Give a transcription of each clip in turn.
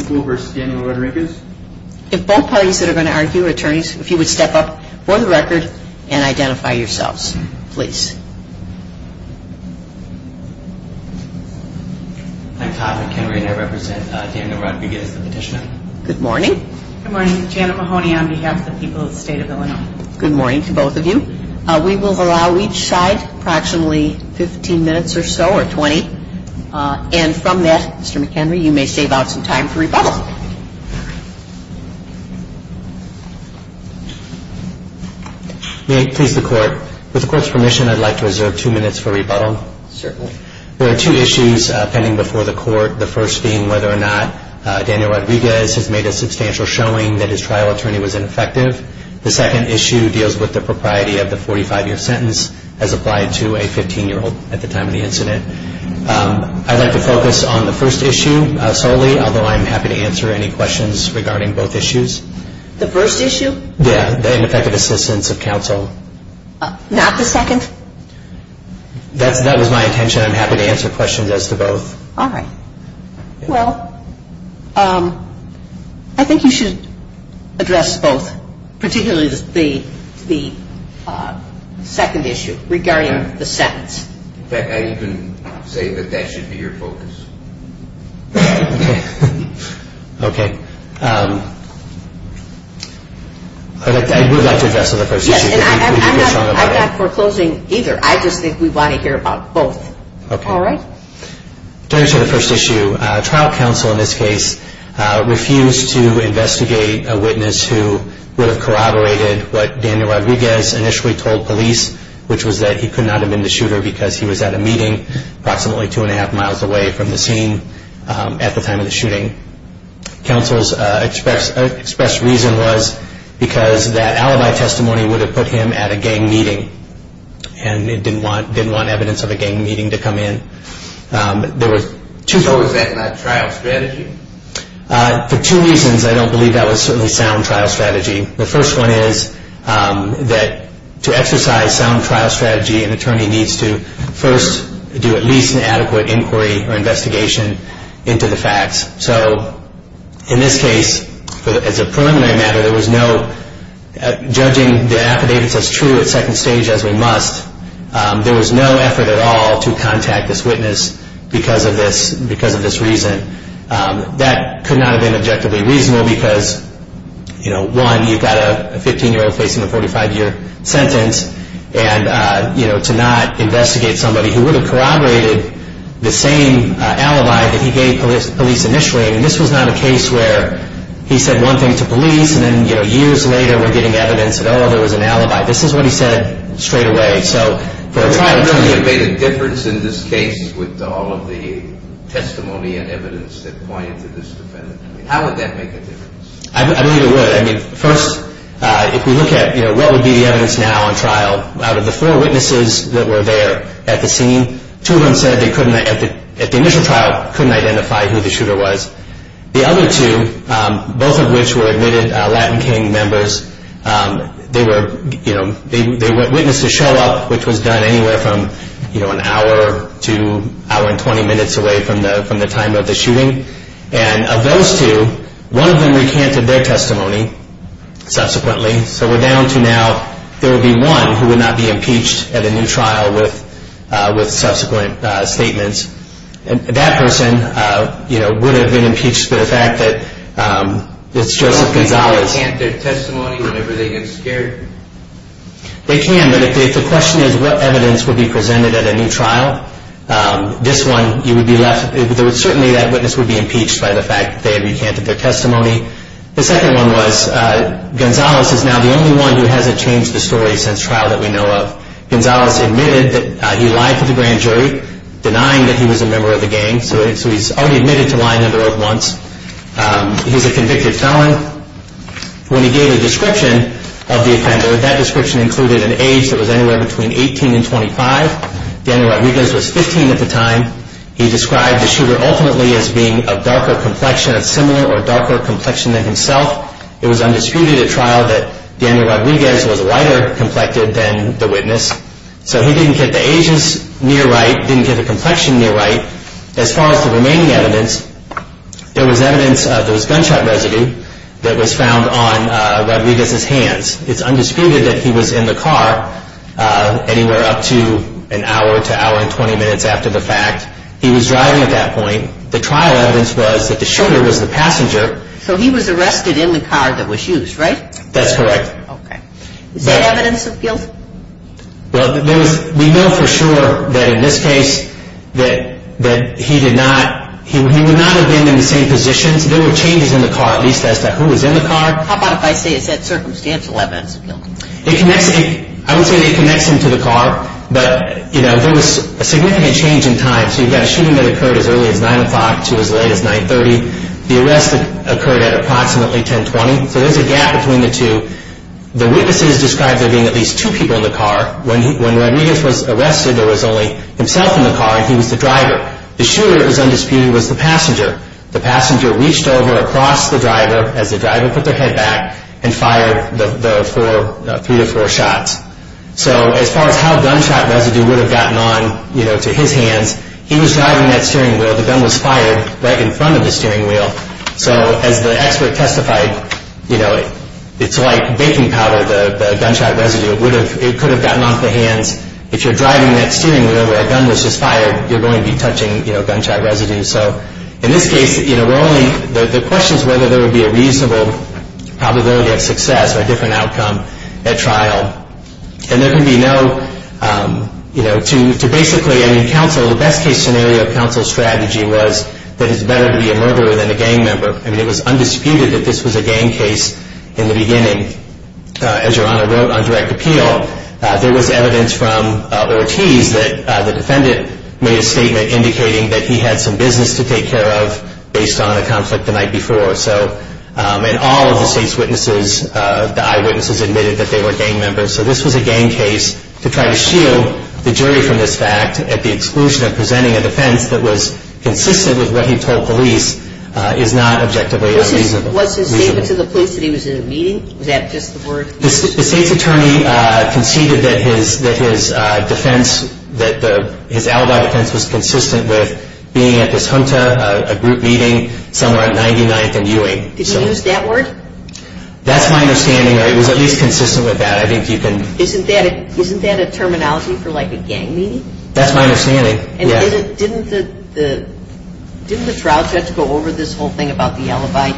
If both parties that are going to argue, attorneys, if you would step up for the record and identify yourselves, please. I'm Todd McHenry and I represent Daniel Rodriguez, the petitioner. Good morning. Good morning. Janet Mahoney on behalf of the people of the state of Illinois. Good morning to both of you. We will allow each side approximately 15 minutes or so, or 20, and from that, Mr. McHenry, you may save out some time for rebuttal. May it please the court, with the court's permission, I'd like to reserve two minutes for rebuttal. Certainly. There are two issues pending before the court. The first being whether or not Daniel Rodriguez has made a substantial showing that his trial attorney was ineffective. The second issue deals with the propriety of the 45-year sentence as applied to a 15-year-old at the time of the incident. I'd like to focus on the first issue solely, although I'm happy to answer any questions regarding both issues. The first issue? Yeah, the ineffective assistance of counsel. Not the second? That was my intention. I'm happy to answer questions as to both. All right. Well, I think you should address both, particularly the second issue regarding the sentence. In fact, I even say that that should be your focus. Okay. I would like to address the first issue. Yes, and I'm not foreclosing either. I just think we want to hear about both. Okay. All right? Turning to the first issue, trial counsel in this case refused to investigate a witness who would have corroborated what Daniel Rodriguez initially told police, which was that he could not have been the shooter because he was at a meeting approximately two and a half miles away from the scene at the time of the shooting. Counsel's expressed reason was because that alibi testimony would have put him at a gang meeting and didn't want evidence of a gang meeting to come in. So was that not trial strategy? For two reasons, I don't believe that was certainly sound trial strategy. The first one is that to exercise sound trial strategy, an attorney needs to first do at least an adequate inquiry or investigation into the facts. So in this case, as a preliminary matter, there was no judging the affidavits as true at second stage as we must. There was no effort at all to contact this witness because of this reason. That could not have been objectively reasonable because, you know, one, you've got a 15-year-old facing a 45-year sentence. And, you know, to not investigate somebody who would have corroborated the same alibi that he gave police initially, and this was not a case where he said one thing to police and then, you know, years later we're getting evidence that, oh, there was an alibi. This is what he said straight away. So for a trial to be- Would it have made a difference in this case with all of the testimony and evidence that pointed to this defendant? I mean, how would that make a difference? I believe it would. I mean, first, if we look at, you know, what would be the evidence now on trial, out of the four witnesses that were there at the scene, two of them said they couldn't, at the initial trial, couldn't identify who the shooter was. The other two, both of which were admitted Latin King members, they were, you know, they witnessed a show-up, which was done anywhere from, you know, an hour to an hour and 20 minutes away from the time of the shooting. And of those two, one of them recanted their testimony subsequently. So we're down to now there would be one who would not be impeached at a new trial with subsequent statements. That person, you know, would have been impeached for the fact that it's Joseph Gonzalez. So they can't recant their testimony whenever they get scared? They can, but if the question is what evidence would be presented at a new trial, this one, you would be left- certainly that witness would be impeached by the fact that they recanted their testimony. The second one was Gonzalez is now the only one who hasn't changed the story since trial that we know of. Gonzalez admitted that he lied to the grand jury, denying that he was a member of the gang. So he's already admitted to lying under oath once. He's a convicted felon. When he gave a description of the offender, that description included an age that was anywhere between 18 and 25. Daniel Rodriguez was 15 at the time. He described the shooter ultimately as being of darker complexion, of similar or darker complexion than himself. It was undisputed at trial that Daniel Rodriguez was lighter complected than the witness. So he didn't get the ages near right, didn't get the complexion near right. As far as the remaining evidence, there was evidence of his gunshot residue that was found on Rodriguez's hands. It's undisputed that he was in the car anywhere up to an hour to hour and 20 minutes after the fact. He was driving at that point. The trial evidence was that the shooter was the passenger. So he was arrested in the car that was used, right? That's correct. Okay. Is that evidence of guilt? Well, we know for sure that in this case that he would not have been in the same positions. There were changes in the car, at least as to who was in the car. How about if I say it's that circumstantial evidence of guilt? I wouldn't say that it connects him to the car, but there was a significant change in time. So you've got a shooting that occurred as early as 9 o'clock to as late as 9.30. The arrest occurred at approximately 10.20. So there's a gap between the two. The witnesses described there being at least two people in the car. When Rodriguez was arrested, there was only himself in the car, and he was the driver. The shooter, it was undisputed, was the passenger. The passenger reached over across the driver as the driver put their head back and fired the three to four shots. So as far as how gunshot residue would have gotten on to his hands, he was driving that steering wheel. The gun was fired right in front of the steering wheel. So as the expert testified, it's like baking powder, the gunshot residue. It could have gotten off the hands. If you're driving that steering wheel where a gun was just fired, you're going to be touching gunshot residue. So in this case, the question is whether there would be a reasonable probability of success or a different outcome at trial. And there can be no, you know, to basically, I mean, counsel, the best case scenario of counsel's strategy was that it's better to be a murderer than a gang member. I mean, it was undisputed that this was a gang case in the beginning. As Your Honor wrote on direct appeal, there was evidence from Ortiz that the defendant made a statement indicating that he had some business to take care of based on a conflict the night before. So in all of the state's witnesses, the eyewitnesses admitted that they were gang members. So this was a gang case to try to shield the jury from this fact at the exclusion of presenting a defense that was consistent with what he told police is not objectively reasonable. Was his statement to the police that he was in a meeting? Was that just the word? The state's attorney conceded that his defense, that his alibi defense was consistent with being at this junta, a group meeting somewhere on 99th and Ewing. Did he use that word? That's my understanding, or it was at least consistent with that. Isn't that a terminology for like a gang meeting? That's my understanding, yes. And didn't the trial judge go over this whole thing about the alibi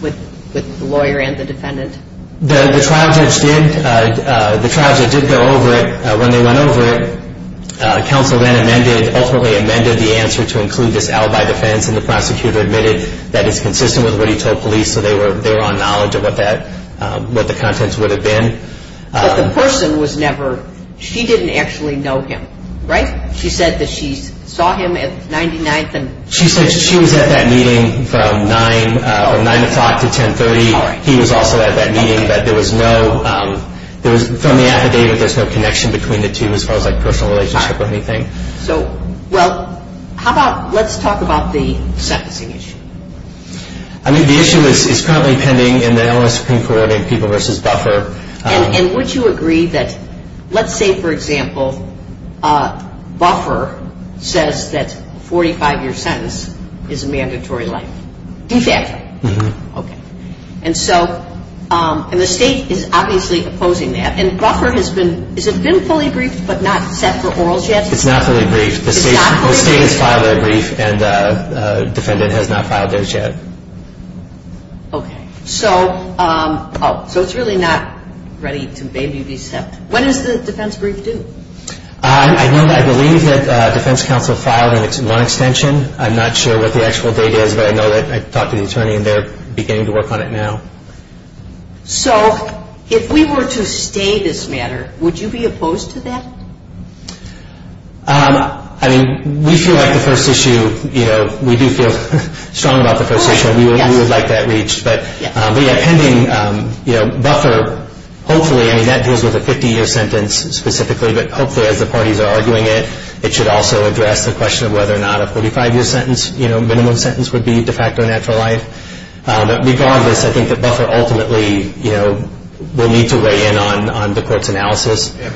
with the lawyer and the defendant? The trial judge did go over it. When they went over it, counsel then ultimately amended the answer to include this alibi defense, and the prosecutor admitted that it's consistent with what he told police, so they were on knowledge of what the contents would have been. But the person was never – she didn't actually know him, right? She said that she saw him at 99th and – She said she was at that meeting from 9 o'clock to 10.30. He was also at that meeting, but there was no – from the affidavit, there's no connection between the two as far as like personal relationship or anything. All right. So, well, how about let's talk about the sentencing issue. I mean, the issue is currently pending in the Illinois Supreme Court verdict, people versus buffer. And would you agree that – let's say, for example, buffer says that a 45-year sentence is a mandatory life. De facto. Okay. And so – and the state is obviously opposing that. And buffer has been – has it been fully briefed but not set for orals yet? It's not fully briefed. It's not fully briefed? No, the state has filed a brief, and the defendant has not filed theirs yet. Okay. So – oh, so it's really not ready to maybe be sent. When is the defense brief due? I know – I believe that defense counsel filed in one extension. I'm not sure what the actual date is, but I know that I talked to the attorney, and they're beginning to work on it now. So if we were to stay this matter, would you be opposed to that? I mean, we feel like the first issue, you know, we do feel strong about the first issue. We would like that reached. But, yeah, pending, you know, buffer, hopefully – I mean, that deals with a 50-year sentence specifically, but hopefully as the parties are arguing it, it should also address the question of whether or not a 45-year sentence, you know, minimum sentence would be de facto natural life. But regardless, I think that buffer ultimately, you know, will need to weigh in on the court's analysis. Yeah,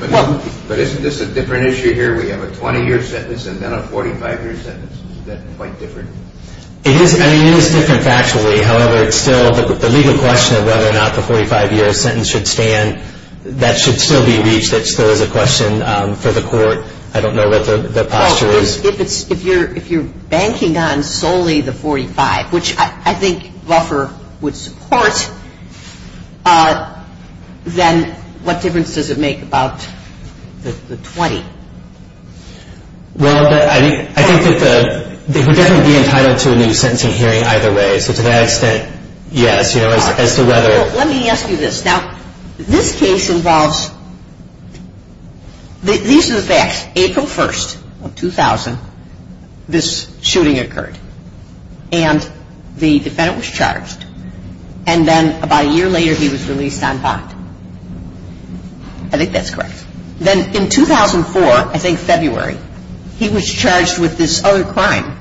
but isn't this a different issue here? We have a 20-year sentence and then a 45-year sentence. Isn't that quite different? It is – I mean, it is different factually. However, it's still – the legal question of whether or not the 45-year sentence should stand, that should still be reached. That still is a question for the court. I don't know what the posture is. Well, if it's – if you're banking on solely the 45, which I think buffer would support, then what difference does it make about the 20? Well, I think that the – they would definitely be entitled to a new sentencing hearing either way. So to that extent, yes, you know, as to whether – Let me ask you this. Now, this case involves – these are the facts. April 1st of 2000, this shooting occurred, and the defendant was charged. And then about a year later, he was released on bond. I think that's correct. Then in 2004, I think February, he was charged with this other crime.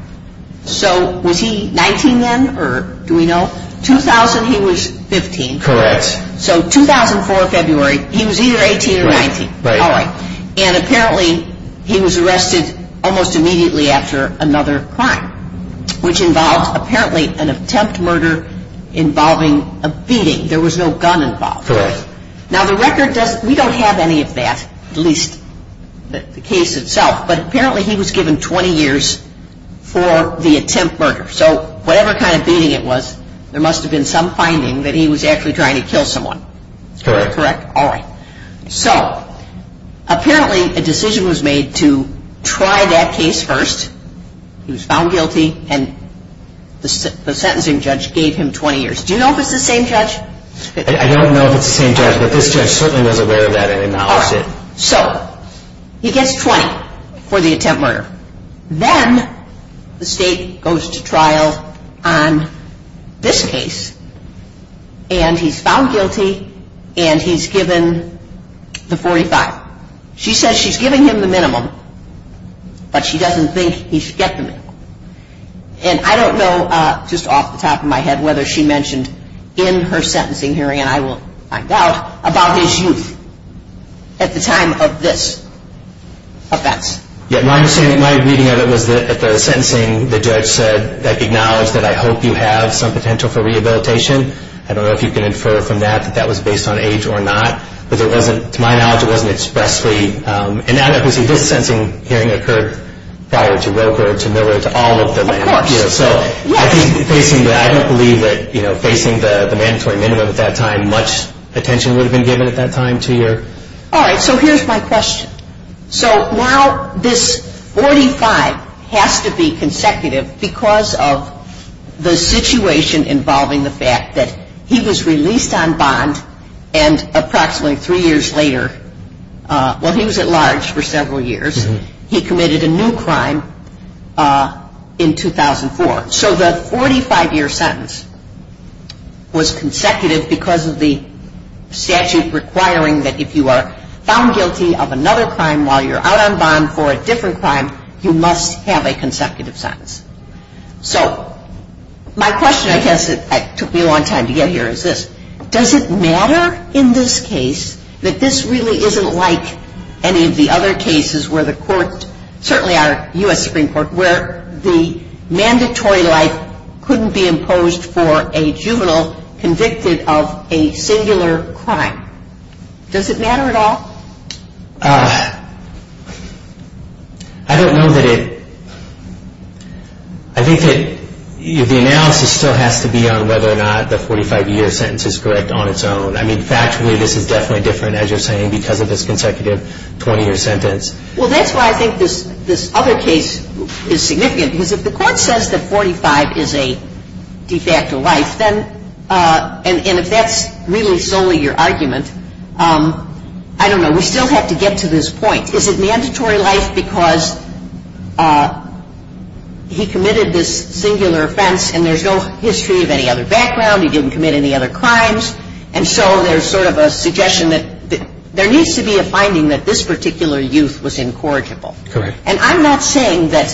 So was he 19 then, or do we know? 2000, he was 15. Correct. So 2004, February, he was either 18 or 19. Right. All right. And apparently, he was arrested almost immediately after another crime, which involved apparently an attempt murder involving a beating. There was no gun involved. Correct. Now, the record doesn't – we don't have any of that, at least the case itself. But apparently, he was given 20 years for the attempt murder. So whatever kind of beating it was, there must have been some finding that he was actually trying to kill someone. Correct. All right. So apparently, a decision was made to try that case first. He was found guilty, and the sentencing judge gave him 20 years. Do you know if it's the same judge? I don't know if it's the same judge, but this judge certainly was aware of that and acknowledged it. All right. So he gets 20 for the attempt murder. Then the state goes to trial on this case, and he's found guilty, and he's given the 45. She says she's giving him the minimum, but she doesn't think he should get the minimum. And I don't know, just off the top of my head, whether she mentioned in her sentencing hearing, and I will find out, about his youth at the time of this offense. Yeah, my understanding, my reading of it was that at the sentencing, the judge said, like, acknowledged that, I hope you have some potential for rehabilitation. I don't know if you can infer from that that that was based on age or not. But it wasn't, to my knowledge, it wasn't expressly. And now that we see this sentencing hearing occurred prior to Roker, to Miller, to all of them. Of course. So I don't believe that, you know, facing the mandatory minimum at that time, much attention would have been given at that time to your. All right. So here's my question. So now this 45 has to be consecutive because of the situation involving the fact that he was released on bond and approximately three years later, well, he was at large for several years. He committed a new crime in 2004. So the 45-year sentence was consecutive because of the statute requiring that if you are found guilty of another crime while you're out on bond for a different crime, you must have a consecutive sentence. So my question, I guess it took me a long time to get here, is this. Does it matter in this case that this really isn't like any of the other cases where the court, certainly our U.S. Supreme Court, where the mandatory life couldn't be imposed for a juvenile convicted of a singular crime? Does it matter at all? I don't know that it, I think that the analysis still has to be on whether or not the 45-year sentence is correct on its own. I mean, factually, this is definitely different, as you're saying, because of this consecutive 20-year sentence. Well, that's why I think this other case is significant, because if the court says that 45 is a de facto life, then, and if that's really solely your argument, I don't know, we still have to get to this point. Is it mandatory life because he committed this singular offense and there's no history of any other background, he didn't commit any other crimes, and so there's sort of a suggestion that there needs to be a finding that this particular youth was incorrigible. Correct. And I'm not saying that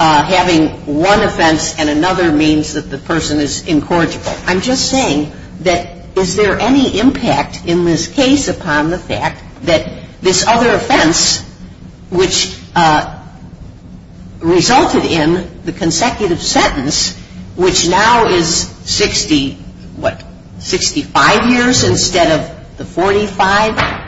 having one offense and another means that the person is incorrigible. I'm just saying that is there any impact in this case upon the fact that this other offense, which resulted in the consecutive sentence, which now is 60, what, 65 years instead of the 45?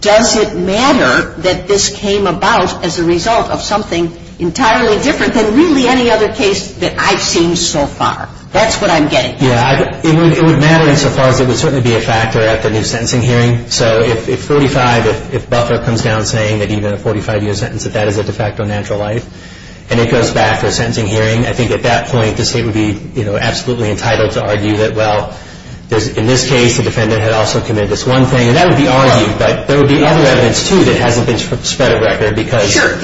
Does it matter that this came about as a result of something entirely different than really any other case that I've seen so far? That's what I'm getting at. Yeah, it would matter insofar as it would certainly be a factor at the new sentencing hearing. So if 45, if Buffer comes down saying that even a 45-year sentence, that that is a de facto natural life, and it goes back to a sentencing hearing, I think at that point the state would be absolutely entitled to argue that, well, in this case the defendant had also committed this one thing, and that would be argued, but there would be other evidence, too, that hasn't been spread of record because… But it's not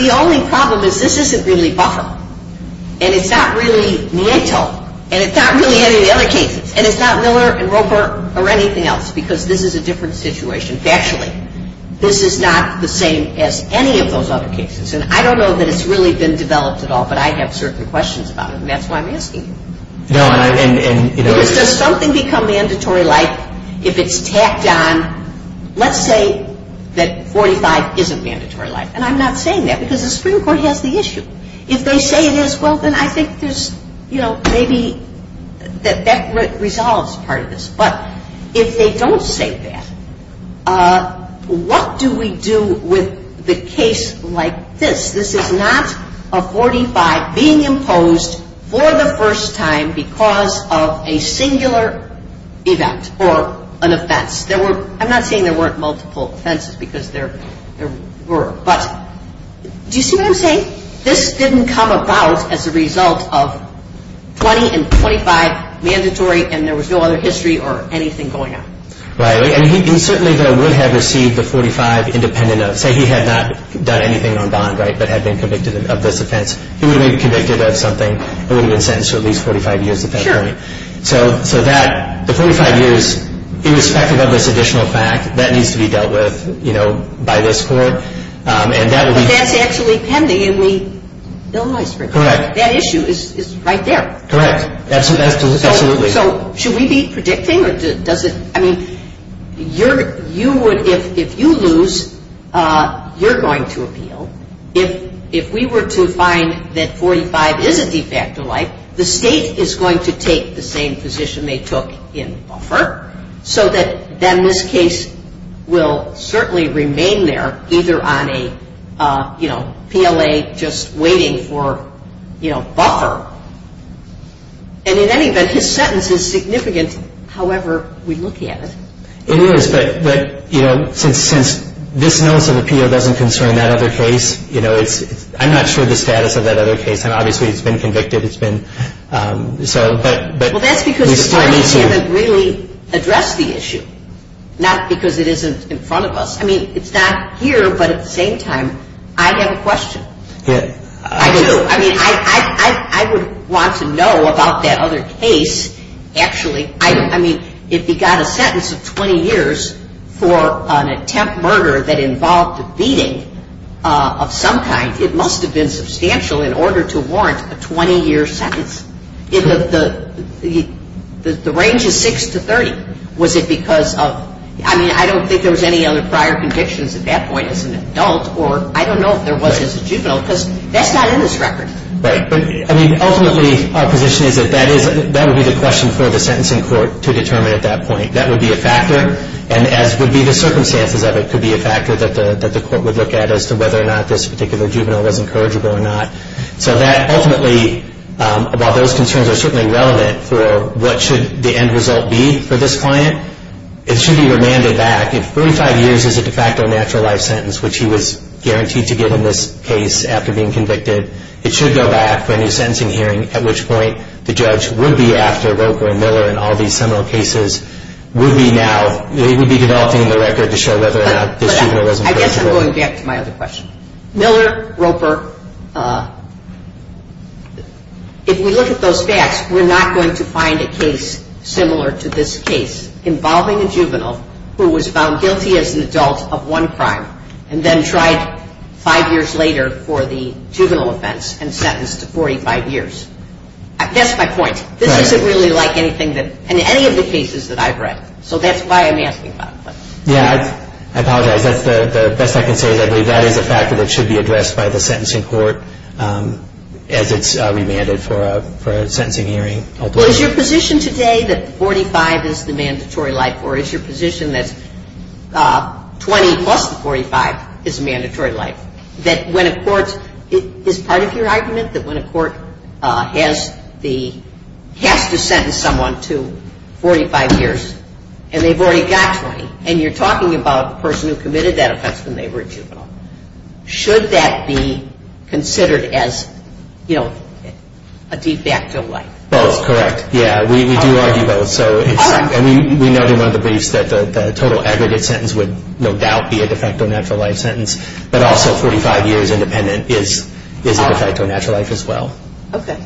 really any of the other cases, and it's not Miller and Roper or anything else because this is a different situation factually. This is not the same as any of those other cases, and I don't know that it's really been developed at all, but I have certain questions about it, and that's why I'm asking you. No, and, you know… Because does something become mandatory life if it's tacked on? Let's say that 45 isn't mandatory life, and I'm not saying that because the Supreme Court has the issue. If they say it is, well, then I think there's, you know, maybe that resolves part of this. But if they don't say that, what do we do with the case like this? This is not a 45 being imposed for the first time because of a singular event or an offense. I'm not saying there weren't multiple offenses because there were, but do you see what I'm saying? This didn't come about as a result of 20 and 25 mandatory, and there was no other history or anything going on. Right, and he certainly would have received the 45 independent of… Say he had not done anything on bond, right, but had been convicted of this offense. He would have been convicted of something and would have been sentenced to at least 45 years of felony. So that, the 45 years, irrespective of this additional fact, that needs to be dealt with, you know, by this court. But that's actually pending in the Illinois Supreme Court. Correct. That issue is right there. Correct. Absolutely. So should we be predicting or does it, I mean, you would, if you lose, you're going to appeal. If we were to find that 45 is a de facto life, the state is going to take the same position they took in Buffer so that then this case will certainly remain there either on a, you know, PLA just waiting for, you know, Buffer. And in any event, his sentence is significant however we look at it. It is, but, you know, since this notice of appeal doesn't concern that other case, you know, I'm not sure of the status of that other case, and obviously it's been convicted. Well, that's because the attorneys haven't really addressed the issue, not because it isn't in front of us. I mean, it's not here, but at the same time, I have a question. I do. I mean, I would want to know about that other case actually. I mean, if he got a sentence of 20 years for an attempt murder that involved a beating of some kind, it must have been substantial in order to warrant a 20-year sentence. The range is 6 to 30. Was it because of, I mean, I don't think there was any other prior convictions at that point as an adult, or I don't know if there was as a juvenile, because that's not in this record. Right. But, I mean, ultimately our position is that that would be the question for the sentencing court to determine at that point. That would be a factor, and as would be the circumstances of it, that could be a factor that the court would look at as to whether or not this particular juvenile was incorrigible or not. So that ultimately, while those concerns are certainly relevant for what should the end result be for this client, it should be remanded back. If 35 years is a de facto natural life sentence, which he was guaranteed to get in this case after being convicted, it should go back for a new sentencing hearing, at which point the judge would be after Roker and Miller and all these seminal cases, would be now, they would be developing the record to show whether or not this juvenile was incorrigible. But I guess I'm going back to my other question. Miller, Roper, if we look at those facts, we're not going to find a case similar to this case, involving a juvenile who was found guilty as an adult of one crime and then tried five years later for the juvenile offense and sentenced to 45 years. That's my point. Right. It doesn't really like anything that, in any of the cases that I've read. So that's why I'm asking about it. Yeah, I apologize. That's the best I can say is I believe that is a factor that should be addressed by the sentencing court as it's remanded for a sentencing hearing. Well, is your position today that 45 is the mandatory life, or is your position that 20 plus the 45 is a mandatory life? That when a court, is part of your argument that when a court has the, has to sentence someone to 45 years and they've already got 20, and you're talking about the person who committed that offense when they were a juvenile, should that be considered as, you know, a de facto life? That's correct. Yeah, we do argue both. And we know in one of the briefs that the total aggregate sentence would no doubt be a de facto natural life sentence. But also 45 years independent is a de facto natural life as well. Okay.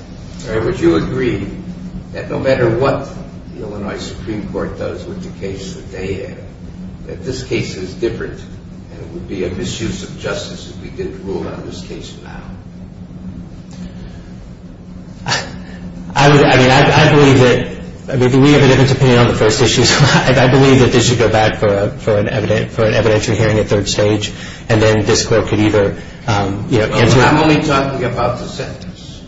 Would you agree that no matter what the Illinois Supreme Court does with the case that they have, that this case is different and it would be a misuse of justice if we didn't rule on this case now? I mean, I believe that, I mean, we have a different opinion on the first issue. I believe that this should go back for an evidentiary hearing at third stage, and then this court could either, you know. I'm only talking about the sentence.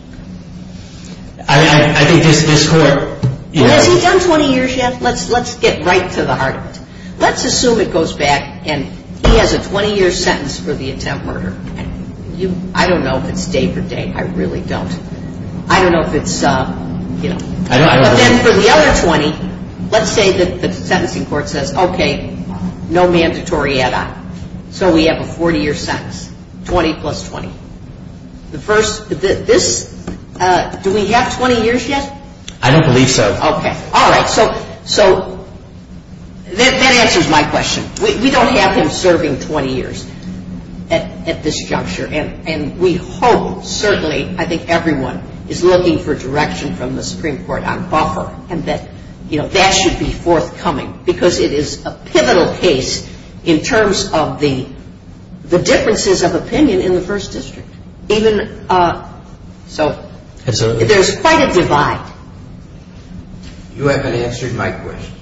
I think this court. Has he done 20 years yet? Let's get right to the heart of it. Let's assume it goes back and he has a 20-year sentence for the attempt murder. I don't know if it's day for day. I really don't. I don't know if it's, you know. But then for the other 20, let's say that the sentencing court says, okay, no mandatory add-on. So we have a 40-year sentence. 20 plus 20. The first, this, do we have 20 years yet? I don't believe so. Okay. All right. So that answers my question. We don't have him serving 20 years at this juncture. And we hope, certainly, I think everyone is looking for direction from the Supreme Court on buffer. And that, you know, that should be forthcoming. Because it is a pivotal case in terms of the differences of opinion in the first district. Even, so there's quite a divide. You haven't answered my question.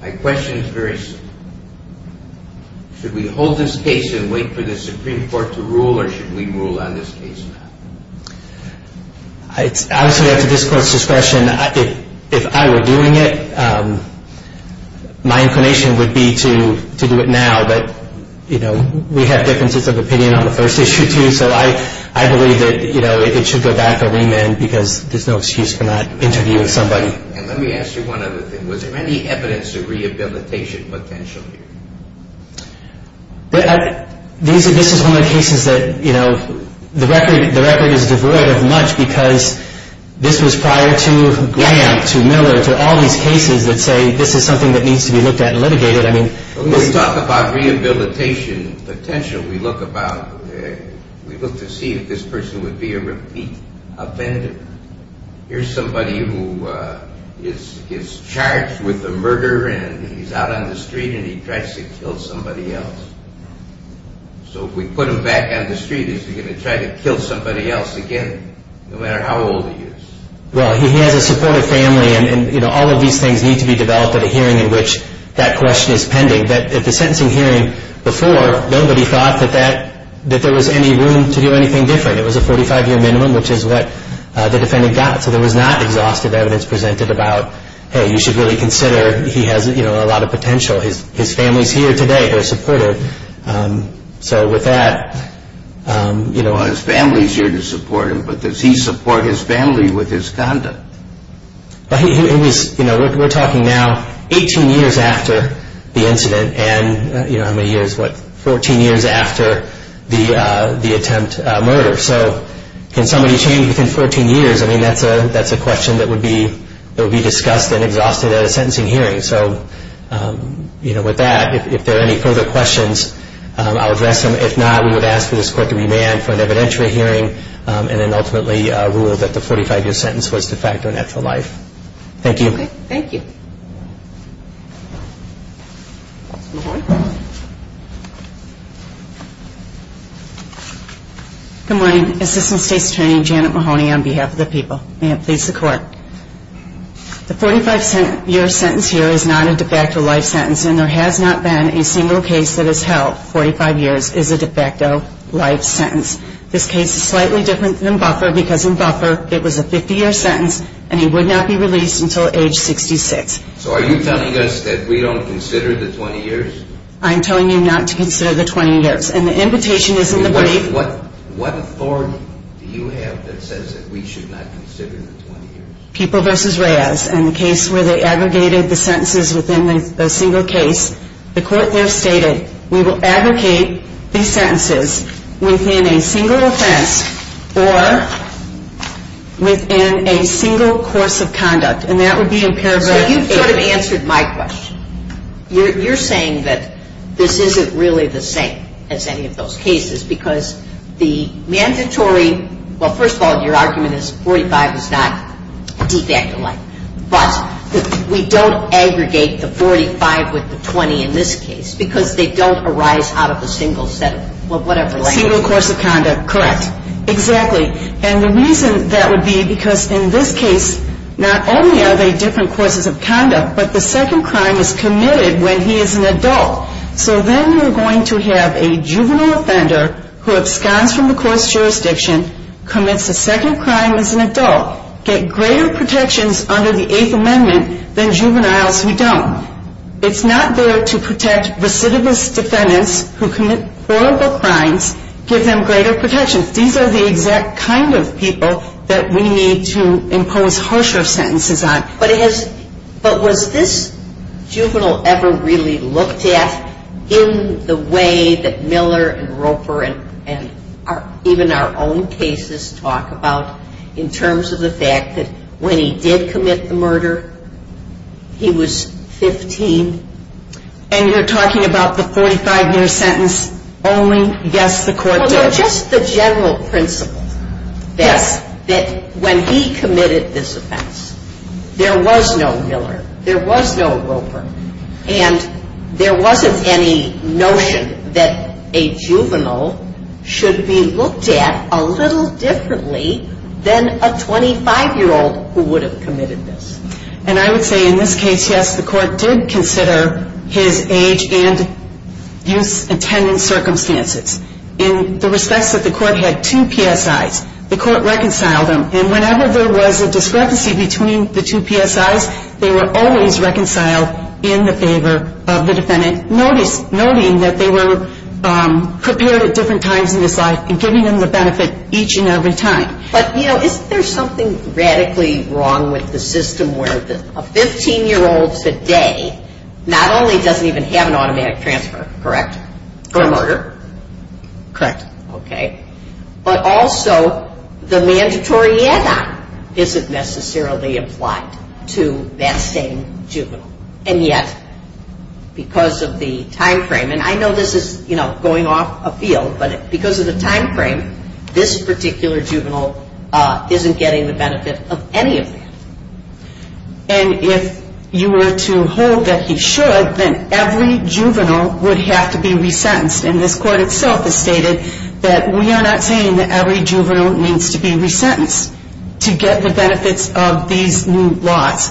My question is very simple. Should we hold this case and wait for the Supreme Court to rule? Or should we rule on this case now? It's obviously up to this court's discretion. If I were doing it, my inclination would be to do it now. But, you know, we have differences of opinion on the first issue too. So I believe that, you know, it should go back to remand. Because there's no excuse for not interviewing somebody. And let me ask you one other thing. Was there any evidence of rehabilitation potential here? This is one of the cases that, you know, the record is devoid of much. Because this was prior to Graham, to Miller, to all these cases that say this is something that needs to be looked at and litigated. I mean, this is. When we talk about rehabilitation potential, we look about, we look to see if this person would be a repeat offender. Here's somebody who is charged with a murder and he's out on the street and he tries to kill somebody else. So if we put him back on the street, is he going to try to kill somebody else again, no matter how old he is? Well, he has a supportive family and, you know, all of these things need to be developed at a hearing in which that question is pending. But at the sentencing hearing before, nobody thought that that, that there was any room to do anything different. It was a 45-year minimum, which is what the defendant got. So there was not exhaustive evidence presented about, hey, you should really consider he has, you know, a lot of potential. His family is here today. They're supportive. So with that, you know. His family is here to support him, but does he support his family with his conduct? It was, you know, we're talking now 18 years after the incident and, you know, how many years, what, 14 years after the attempt murder. So can somebody change within 14 years? I mean, that's a question that would be discussed and exhausted at a sentencing hearing. So, you know, with that, if there are any further questions, I'll address them. If not, we would ask for this court to remand for an evidentiary hearing and then ultimately rule that the 45-year sentence was de facto natural life. Thank you. Okay. Thank you. Mahoney. Good morning. Assistant State's Attorney Janet Mahoney on behalf of the people. May it please the Court. The 45-year sentence here is not a de facto life sentence, and there has not been a single case that has held 45 years is a de facto life sentence. This case is slightly different than Buffer because in Buffer it was a 50-year sentence and he would not be released until age 66. So are you telling us that we don't consider the 20 years? I'm telling you not to consider the 20 years, and the invitation is in the brief. What authority do you have that says that we should not consider the 20 years? People v. Reyes, in the case where they aggregated the sentences within a single case, the court there stated we will aggregate these sentences within a single offense or within a single course of conduct, and that would be in paragraph 8. So you've sort of answered my question. You're saying that this isn't really the same as any of those cases because the mandatory – well, first of all, your argument is 45 is not de facto life, but we don't aggregate the 45 with the 20 in this case because they don't arise out of a single set of whatever language. A single course of conduct, correct. Exactly, and the reason that would be because in this case not only are they different courses of conduct, but the second crime is committed when he is an adult. So then you're going to have a juvenile offender who absconds from the court's jurisdiction, commits a second crime as an adult, get greater protections under the Eighth Amendment than juveniles who don't. It's not there to protect recidivist defendants who commit horrible crimes, give them greater protections. These are the exact kind of people that we need to impose harsher sentences on. But was this juvenile ever really looked at in the way that Miller and Roper and even our own cases talk about in terms of the fact that when he did commit the murder, he was 15? And you're talking about the 45-year sentence only? Yes, the court did. No, just the general principle that when he committed this offense, there was no Miller, there was no Roper, and there wasn't any notion that a juvenile should be looked at a little differently than a 25-year-old who would have committed this. And I would say in this case, yes, the court did consider his age and youth attendance circumstances. In the respects that the court had two PSIs, the court reconciled them. And whenever there was a discrepancy between the two PSIs, they were always reconciled in the favor of the defendant, noting that they were prepared at different times in his life and giving him the benefit each and every time. But, you know, isn't there something radically wrong with the system where a 15-year-old today not only doesn't even have an automatic transfer, correct, for a murder? Correct. Okay. But also the mandatory add-on isn't necessarily applied to that same juvenile. And yet, because of the time frame, and I know this is, you know, going off a field, but because of the time frame, this particular juvenile isn't getting the benefit of any of that. And if you were to hold that he should, then every juvenile would have to be resentenced. And this court itself has stated that we are not saying that every juvenile needs to be resentenced to get the benefits of these new laws.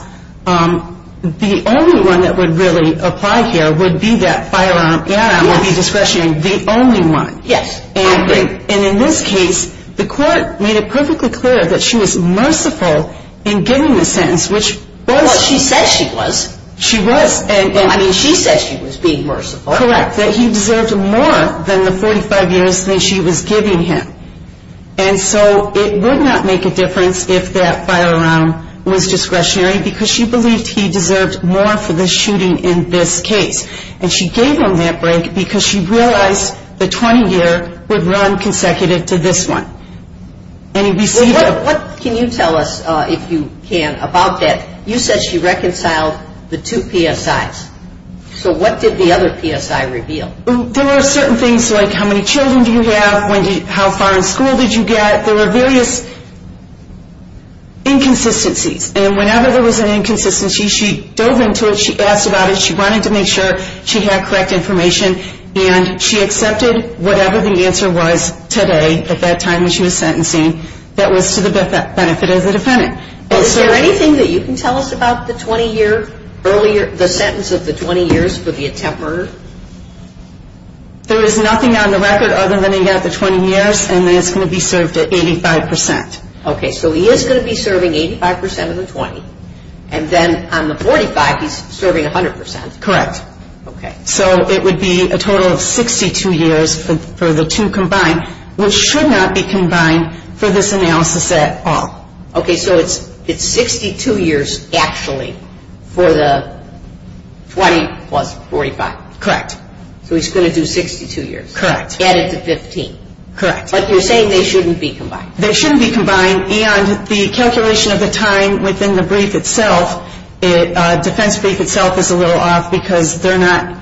The only one that would really apply here would be that firearm add-on would be discretionary. The only one. Yes. And in this case, the court made it perfectly clear that she was merciful in giving the sentence, which was. Well, she said she was. She was. I mean, she said she was being merciful. Correct. That he deserved more than the 45 years that she was giving him. And so it would not make a difference if that firearm was discretionary because she believed he deserved more for the shooting in this case. And she gave him that break because she realized the 20-year would run consecutive to this one. And we see that. What can you tell us, if you can, about that? You said she reconciled the two PSIs. So what did the other PSI reveal? There were certain things like how many children do you have, how far in school did you get. There were various inconsistencies. And whenever there was an inconsistency, she dove into it, she asked about it, she wanted to make sure she had correct information, and she accepted whatever the answer was today, at that time when she was sentencing, that was to the benefit of the defendant. Is there anything that you can tell us about the 20-year earlier, the sentence of the 20 years for the attempt murder? There is nothing on the record other than he got the 20 years, and that's going to be served at 85 percent. Okay, so he is going to be serving 85 percent of the 20. And then on the 45, he's serving 100 percent. Correct. Okay. So it would be a total of 62 years for the two combined, which should not be combined for this analysis at all. Okay, so it's 62 years actually for the 20 plus 45. Correct. So he's going to do 62 years. Correct. Added to 15. Correct. But you're saying they shouldn't be combined. They shouldn't be combined, and the calculation of the time within the brief itself, defense brief itself is a little off because they're not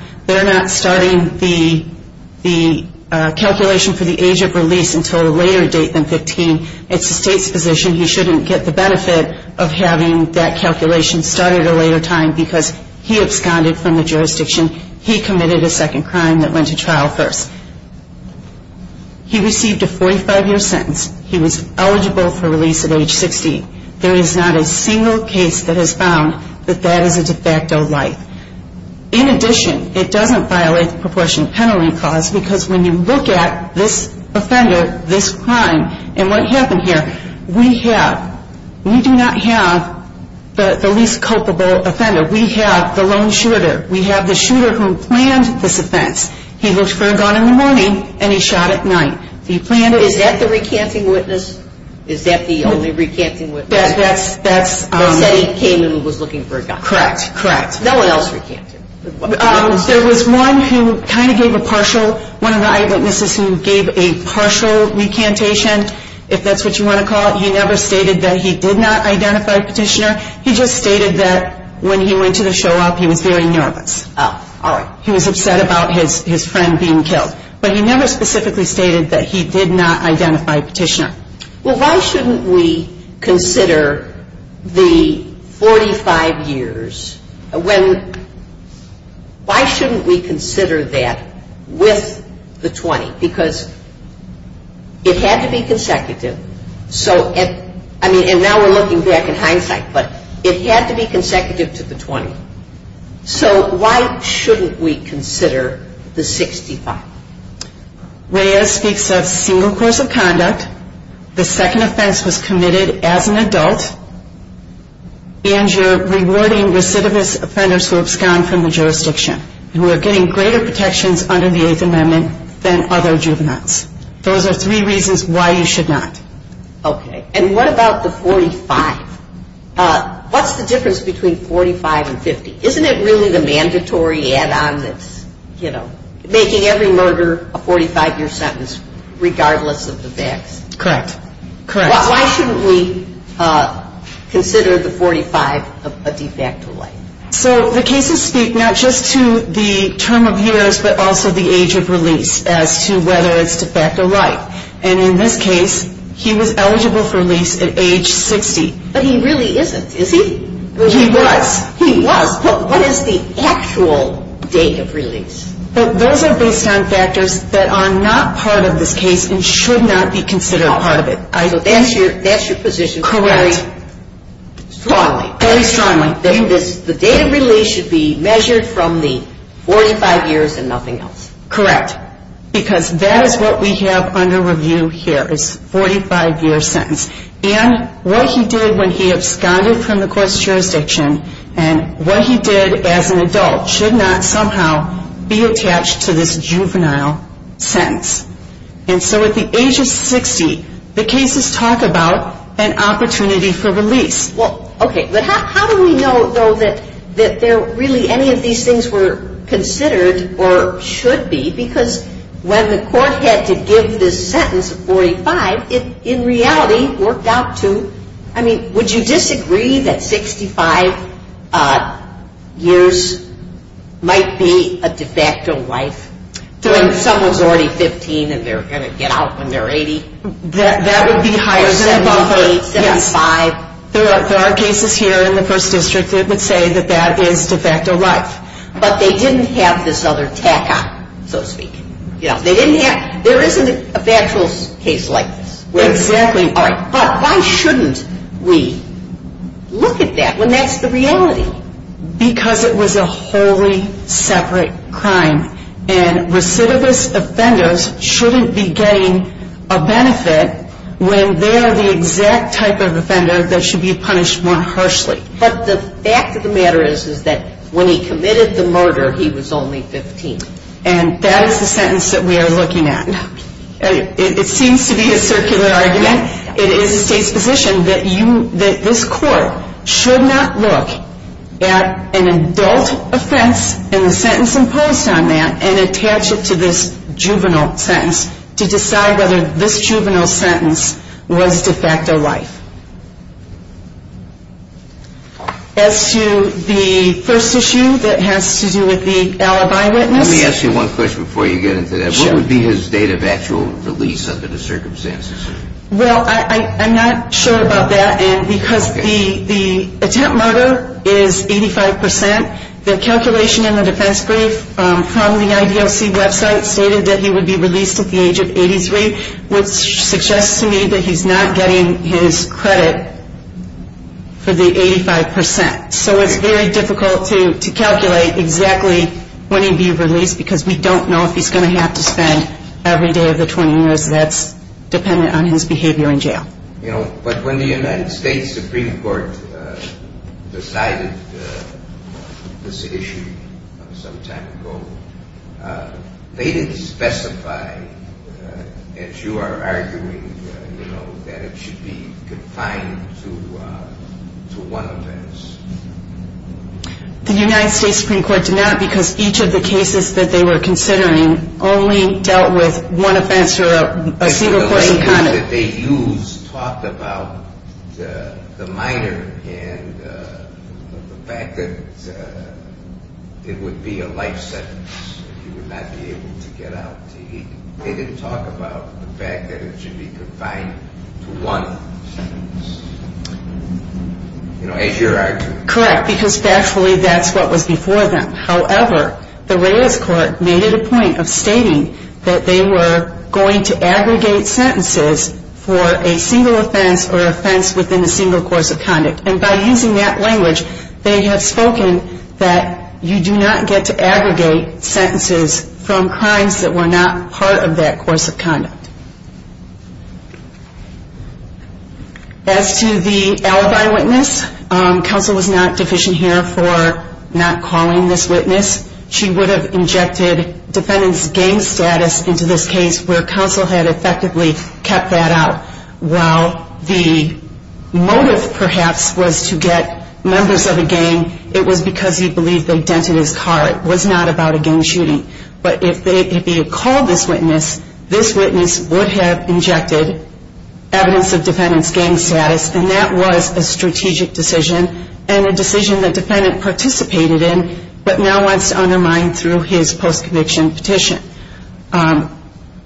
starting the calculation for the age of release until a later date than 15. It's the state's position he shouldn't get the benefit of having that calculation started at a later time because he absconded from the jurisdiction. He committed a second crime that went to trial first. He received a 45-year sentence. He was eligible for release at age 60. There is not a single case that has found that that is a de facto life. In addition, it doesn't violate the proportion penalty clause because when you look at this offender, this crime, and what happened here, we do not have the least culpable offender. We have the lone shooter. We have the shooter who planned this offense. He looked for a gun in the morning, and he shot at night. He planned it. Is that the recanting witness? Is that the only recanting witness? That's- They said he came in and was looking for a gun. Correct. Correct. No one else recanted. There was one who kind of gave a partial, one of the eyewitnesses who gave a partial recantation, if that's what you want to call it. He never stated that he did not identify Petitioner. He just stated that when he went to the show up, he was very nervous. Oh. All right. He was upset about his friend being killed. But he never specifically stated that he did not identify Petitioner. Well, why shouldn't we consider the 45 years when- why shouldn't we consider that with the 20? Because it had to be consecutive. So, I mean, and now we're looking back in hindsight, but it had to be consecutive to the 20. So why shouldn't we consider the 65? Reyes speaks of single course of conduct. The second offense was committed as an adult, and you're rewarding recidivist offenders who abscond from the jurisdiction who are getting greater protections under the Eighth Amendment than other juveniles. Those are three reasons why you should not. Okay. And what about the 45? What's the difference between 45 and 50? Isn't it really the mandatory add-on that's, you know, making every murder a 45-year sentence regardless of the facts? Correct. Correct. Why shouldn't we consider the 45 a de facto life? So the cases speak not just to the term of years, but also the age of release as to whether it's de facto life. And in this case, he was eligible for release at age 60. But he really isn't, is he? He was. He was? But what is the actual date of release? Those are based on factors that are not part of this case and should not be considered a part of it. So that's your position very strongly. Very strongly. That the date of release should be measured from the 45 years and nothing else. Correct. Because that is what we have under review here is 45-year sentence. And what he did when he absconded from the court's jurisdiction and what he did as an adult should not somehow be attached to this juvenile sentence. And so at the age of 60, the cases talk about an opportunity for release. Well, okay. But how do we know, though, that there really any of these things were considered or should be because when the court had to give this sentence of 45, it in reality worked out to, I mean, would you disagree that 65 years might be a de facto life? When someone's already 15 and they're going to get out when they're 80? That would be higher. Or 78, 75? Yes. There are cases here in the first district that would say that that is de facto life. But they didn't have this other tack on it, so to speak. You know, they didn't have, there isn't a factual case like this. Exactly. All right. But why shouldn't we look at that when that's the reality? Because it was a wholly separate crime. And recidivist offenders shouldn't be getting a benefit when they're the exact type of offender that should be punished more harshly. But the fact of the matter is that when he committed the murder, he was only 15. And that is the sentence that we are looking at. It seems to be a circular argument. It is the state's position that this court should not look at an adult offense and the sentence imposed on that and attach it to this juvenile sentence to decide whether this juvenile sentence was de facto life. As to the first issue that has to do with the alibi witness. Let me ask you one question before you get into that. Sure. What would be his date of actual release under the circumstances? Well, I'm not sure about that. And because the attempt murder is 85 percent, the calculation in the defense brief from the IDLC website stated that he would be released at the age of 83, which suggests to me that he's not getting his credit for the 85 percent. So it's very difficult to calculate exactly when he'd be released because we don't know if he's going to have to spend every day of the 20 years. That's dependent on his behavior in jail. But when the United States Supreme Court decided this issue some time ago, they didn't specify, as you are arguing, that it should be confined to one offense. The United States Supreme Court did not because each of the cases that they were considering only dealt with one offense or a single-courting conduct. The law that they used talked about the minor and the fact that it would be a life sentence if he would not be able to get out to eat. They didn't talk about the fact that it should be confined to one offense. You know, as you are arguing. Correct, because factually that's what was before them. However, the Reyes Court made it a point of stating that they were going to aggregate sentences for a single offense or offense within a single course of conduct. And by using that language, they have spoken that you do not get to aggregate sentences from crimes that were not part of that course of conduct. As to the alibi witness, counsel was not deficient here for not calling this witness. She would have injected defendant's gang status into this case where counsel had effectively kept that out. While the motive, perhaps, was to get members of a gang, it was because he believed they dented his car. It was not about a gang shooting. But if he had called this witness, this witness would have injected evidence of defendant's gang status. And that was a strategic decision and a decision that defendant participated in, but now wants to undermine through his post-conviction petition.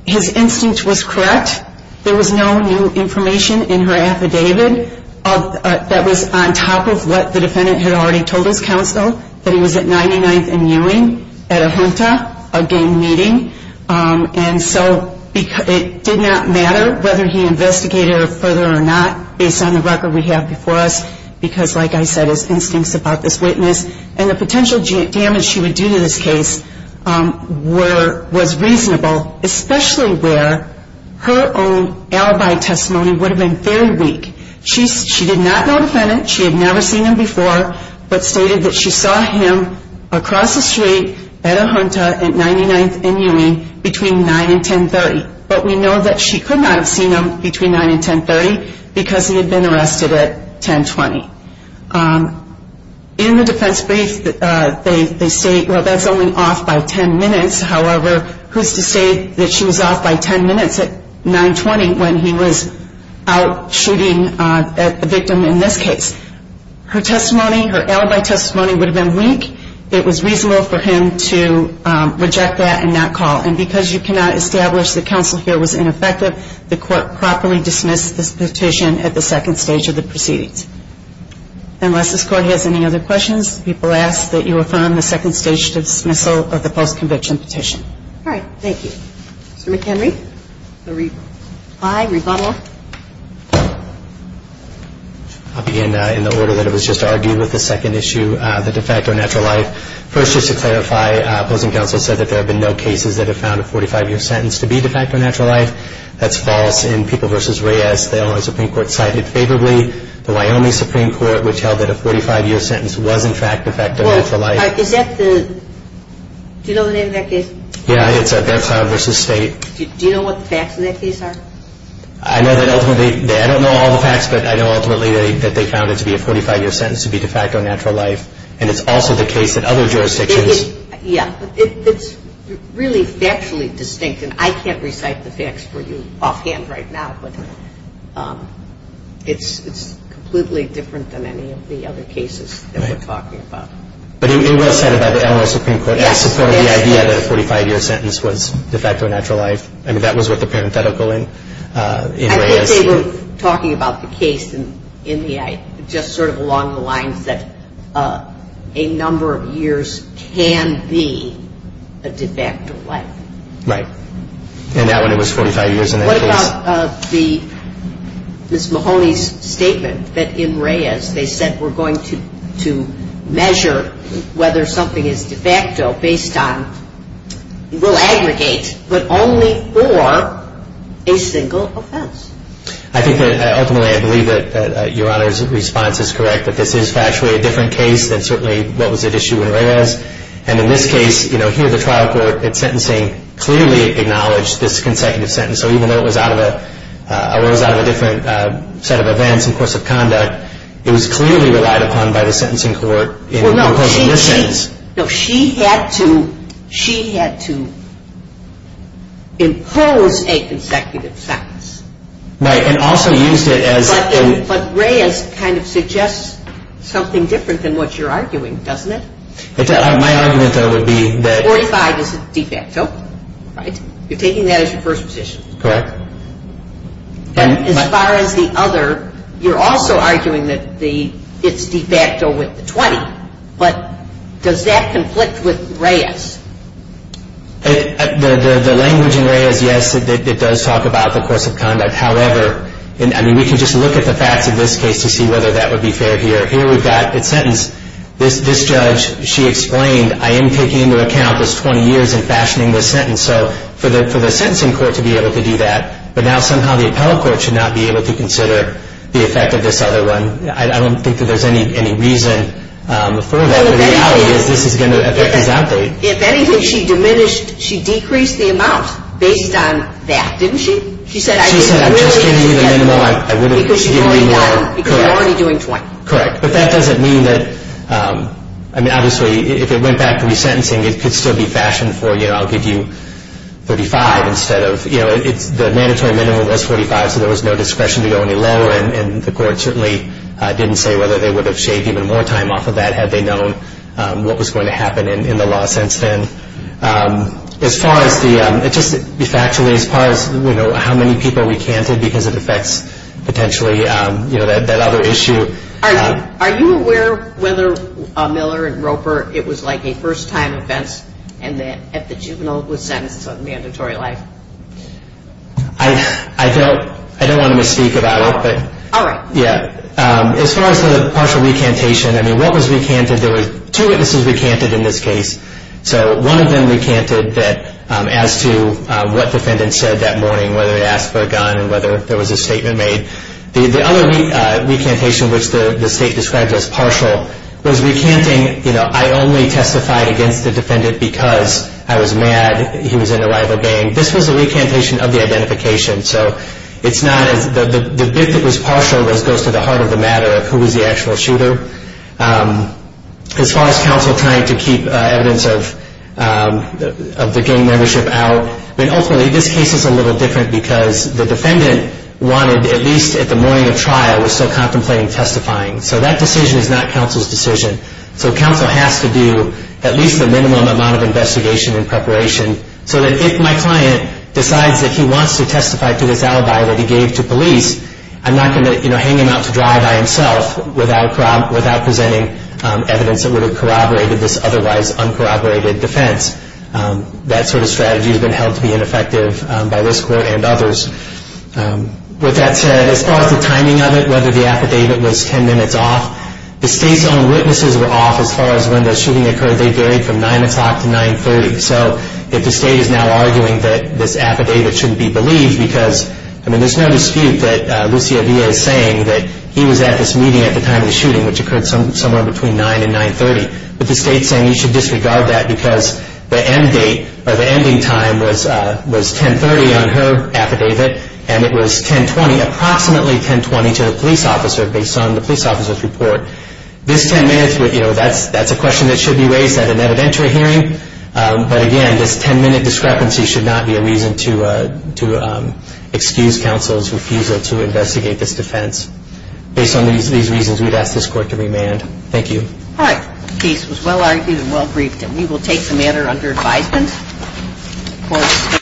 His instinct was correct. There was no new information in her affidavit that was on top of what the defendant had already told his counsel, that he was at 99th and Ewing at a junta, a gang meeting. And so it did not matter whether he investigated her further or not, based on the record we have before us, because, like I said, his instincts about this witness and the potential damage she would do to this case was reasonable, especially where her own alibi testimony would have been very weak. She did not know the defendant. She had never seen him before, but stated that she saw him across the street at a junta at 99th and Ewing between 9 and 1030. But we know that she could not have seen him between 9 and 1030 because he had been arrested at 1020. In the defense brief, they state, well, that's only off by 10 minutes. However, who's to say that she was off by 10 minutes at 920 when he was out shooting at the victim in this case? Her testimony, her alibi testimony would have been weak. It was reasonable for him to reject that and not call. And because you cannot establish that counsel here was ineffective, the court properly dismissed this petition at the second stage of the proceedings. Unless this court has any other questions, people ask that you affirm the second stage dismissal of the post-conviction petition. All right. Thank you. Mr. McHenry? Aye. Rebuttal? I'll begin in the order that it was just argued with the second issue, the de facto natural life. First, just to clarify, opposing counsel said that there have been no cases that have found a 45-year sentence to be de facto natural life. That's false. In People v. Reyes, the Illinois Supreme Court cited favorably. The Wyoming Supreme Court would tell that a 45-year sentence was, in fact, de facto natural life. Well, is that the – do you know the name of that case? Yeah, it's Bexar v. State. Do you know what the facts of that case are? I know that ultimately – I don't know all the facts, but I know ultimately that they found it to be a 45-year sentence to be de facto natural life. And it's also the case that other jurisdictions – Yeah. It's really factually distinct. And I can't recite the facts for you offhand right now, but it's completely different than any of the other cases that we're talking about. Right. But it was cited by the Illinois Supreme Court. Yes. It supported the idea that a 45-year sentence was de facto natural life. I mean, that was what the parenthetical in Reyes – I think they were talking about the case in the – just sort of along the lines that a number of years can be a de facto life. Right. And that one, it was 45 years in that case. What about the – Ms. Mahoney's statement that in Reyes, they said we're going to measure whether something is de facto based on – will aggregate, but only for a single offense? I think that ultimately I believe that Your Honor's response is correct, that this is factually a different case than certainly what was at issue in Reyes. And in this case, you know, here the trial court at sentencing clearly acknowledged this consecutive sentence. So even though it was out of a different set of events and course of conduct, it was clearly relied upon by the sentencing court in opposing this sentence. Well, no, she had to impose a consecutive sentence. Right. And also used it as – But Reyes kind of suggests something different than what you're arguing, doesn't it? My argument, though, would be that – Forty-five is de facto, right? You're taking that as your first position. Correct. But as far as the other, you're also arguing that it's de facto with the 20. But does that conflict with Reyes? The language in Reyes, yes, it does talk about the course of conduct. However, I mean, we can just look at the facts of this case to see whether that would be fair here. Here we've got a sentence. This judge, she explained, I am taking into account this 20 years and fashioning this sentence. So for the sentencing court to be able to do that, but now somehow the appellate court should not be able to consider the effect of this other one. I don't think that there's any reason for that. The reality is this is going to affect his update. If anything, she diminished – she decreased the amount based on that, didn't she? She said, I really – She said, I'm just giving you the minimum. I really – Because you're going down because you're already doing 20. Correct. But that doesn't mean that – I mean, obviously, if it went back to resentencing, it could still be fashioned for, you know, I'll give you 35 instead of – you know, the mandatory minimum was 45, so there was no discretion to go any lower. And the court certainly didn't say whether they would have shaved even more time off of that had they known what was going to happen in the law since then. As far as the – just de factoly, as far as, you know, how many people we canted because it affects potentially, you know, that other issue. Are you aware whether Miller and Roper, it was like a first-time offense and that the juvenile was sentenced on mandatory life? I don't want to misspeak about it, but – All right. Yeah. As far as the partial recantation, I mean, what was recanted? There were two witnesses recanted in this case. So one of them recanted that as to what the defendant said that morning, whether he asked for a gun and whether there was a statement made. The other recantation, which the State described as partial, was recanting, you know, I only testified against the defendant because I was mad he was in a rival gang. This was a recantation of the identification. So it's not as – the bit that was partial goes to the heart of the matter of who was the actual shooter. As far as counsel trying to keep evidence of the gang membership out, I mean, ultimately this case is a little different because the defendant wanted, at least at the morning of trial, was still contemplating testifying. So that decision is not counsel's decision. So counsel has to do at least the minimum amount of investigation and preparation so that if my client decides that he wants to testify to this alibi that he gave to police, I'm not going to, you know, hang him out to dry by himself without presenting evidence that would have corroborated this otherwise uncorroborated defense. That sort of strategy has been held to be ineffective by this Court and others. With that said, as far as the timing of it, whether the affidavit was 10 minutes off, the State's own witnesses were off as far as when the shooting occurred. They varied from 9 o'clock to 9.30. So if the State is now arguing that this affidavit shouldn't be believed because, I mean, there's no dispute that Lucia Villa is saying that he was at this meeting at the time of the shooting, which occurred somewhere between 9 and 9.30, but the State's saying you should disregard that because the end date or the ending time was 10.30 on her affidavit and it was 10.20, approximately 10.20, to the police officer based on the police officer's report. This 10 minutes, you know, that's a question that should be raised at an evidentiary hearing. But again, this 10-minute discrepancy should not be a reason to excuse counsel's refusal to investigate this defense. Based on these reasons, we'd ask this Court to remand. Thank you. All right. The case was well argued and well briefed, and we will take the matter under advisement. Court is adjourned.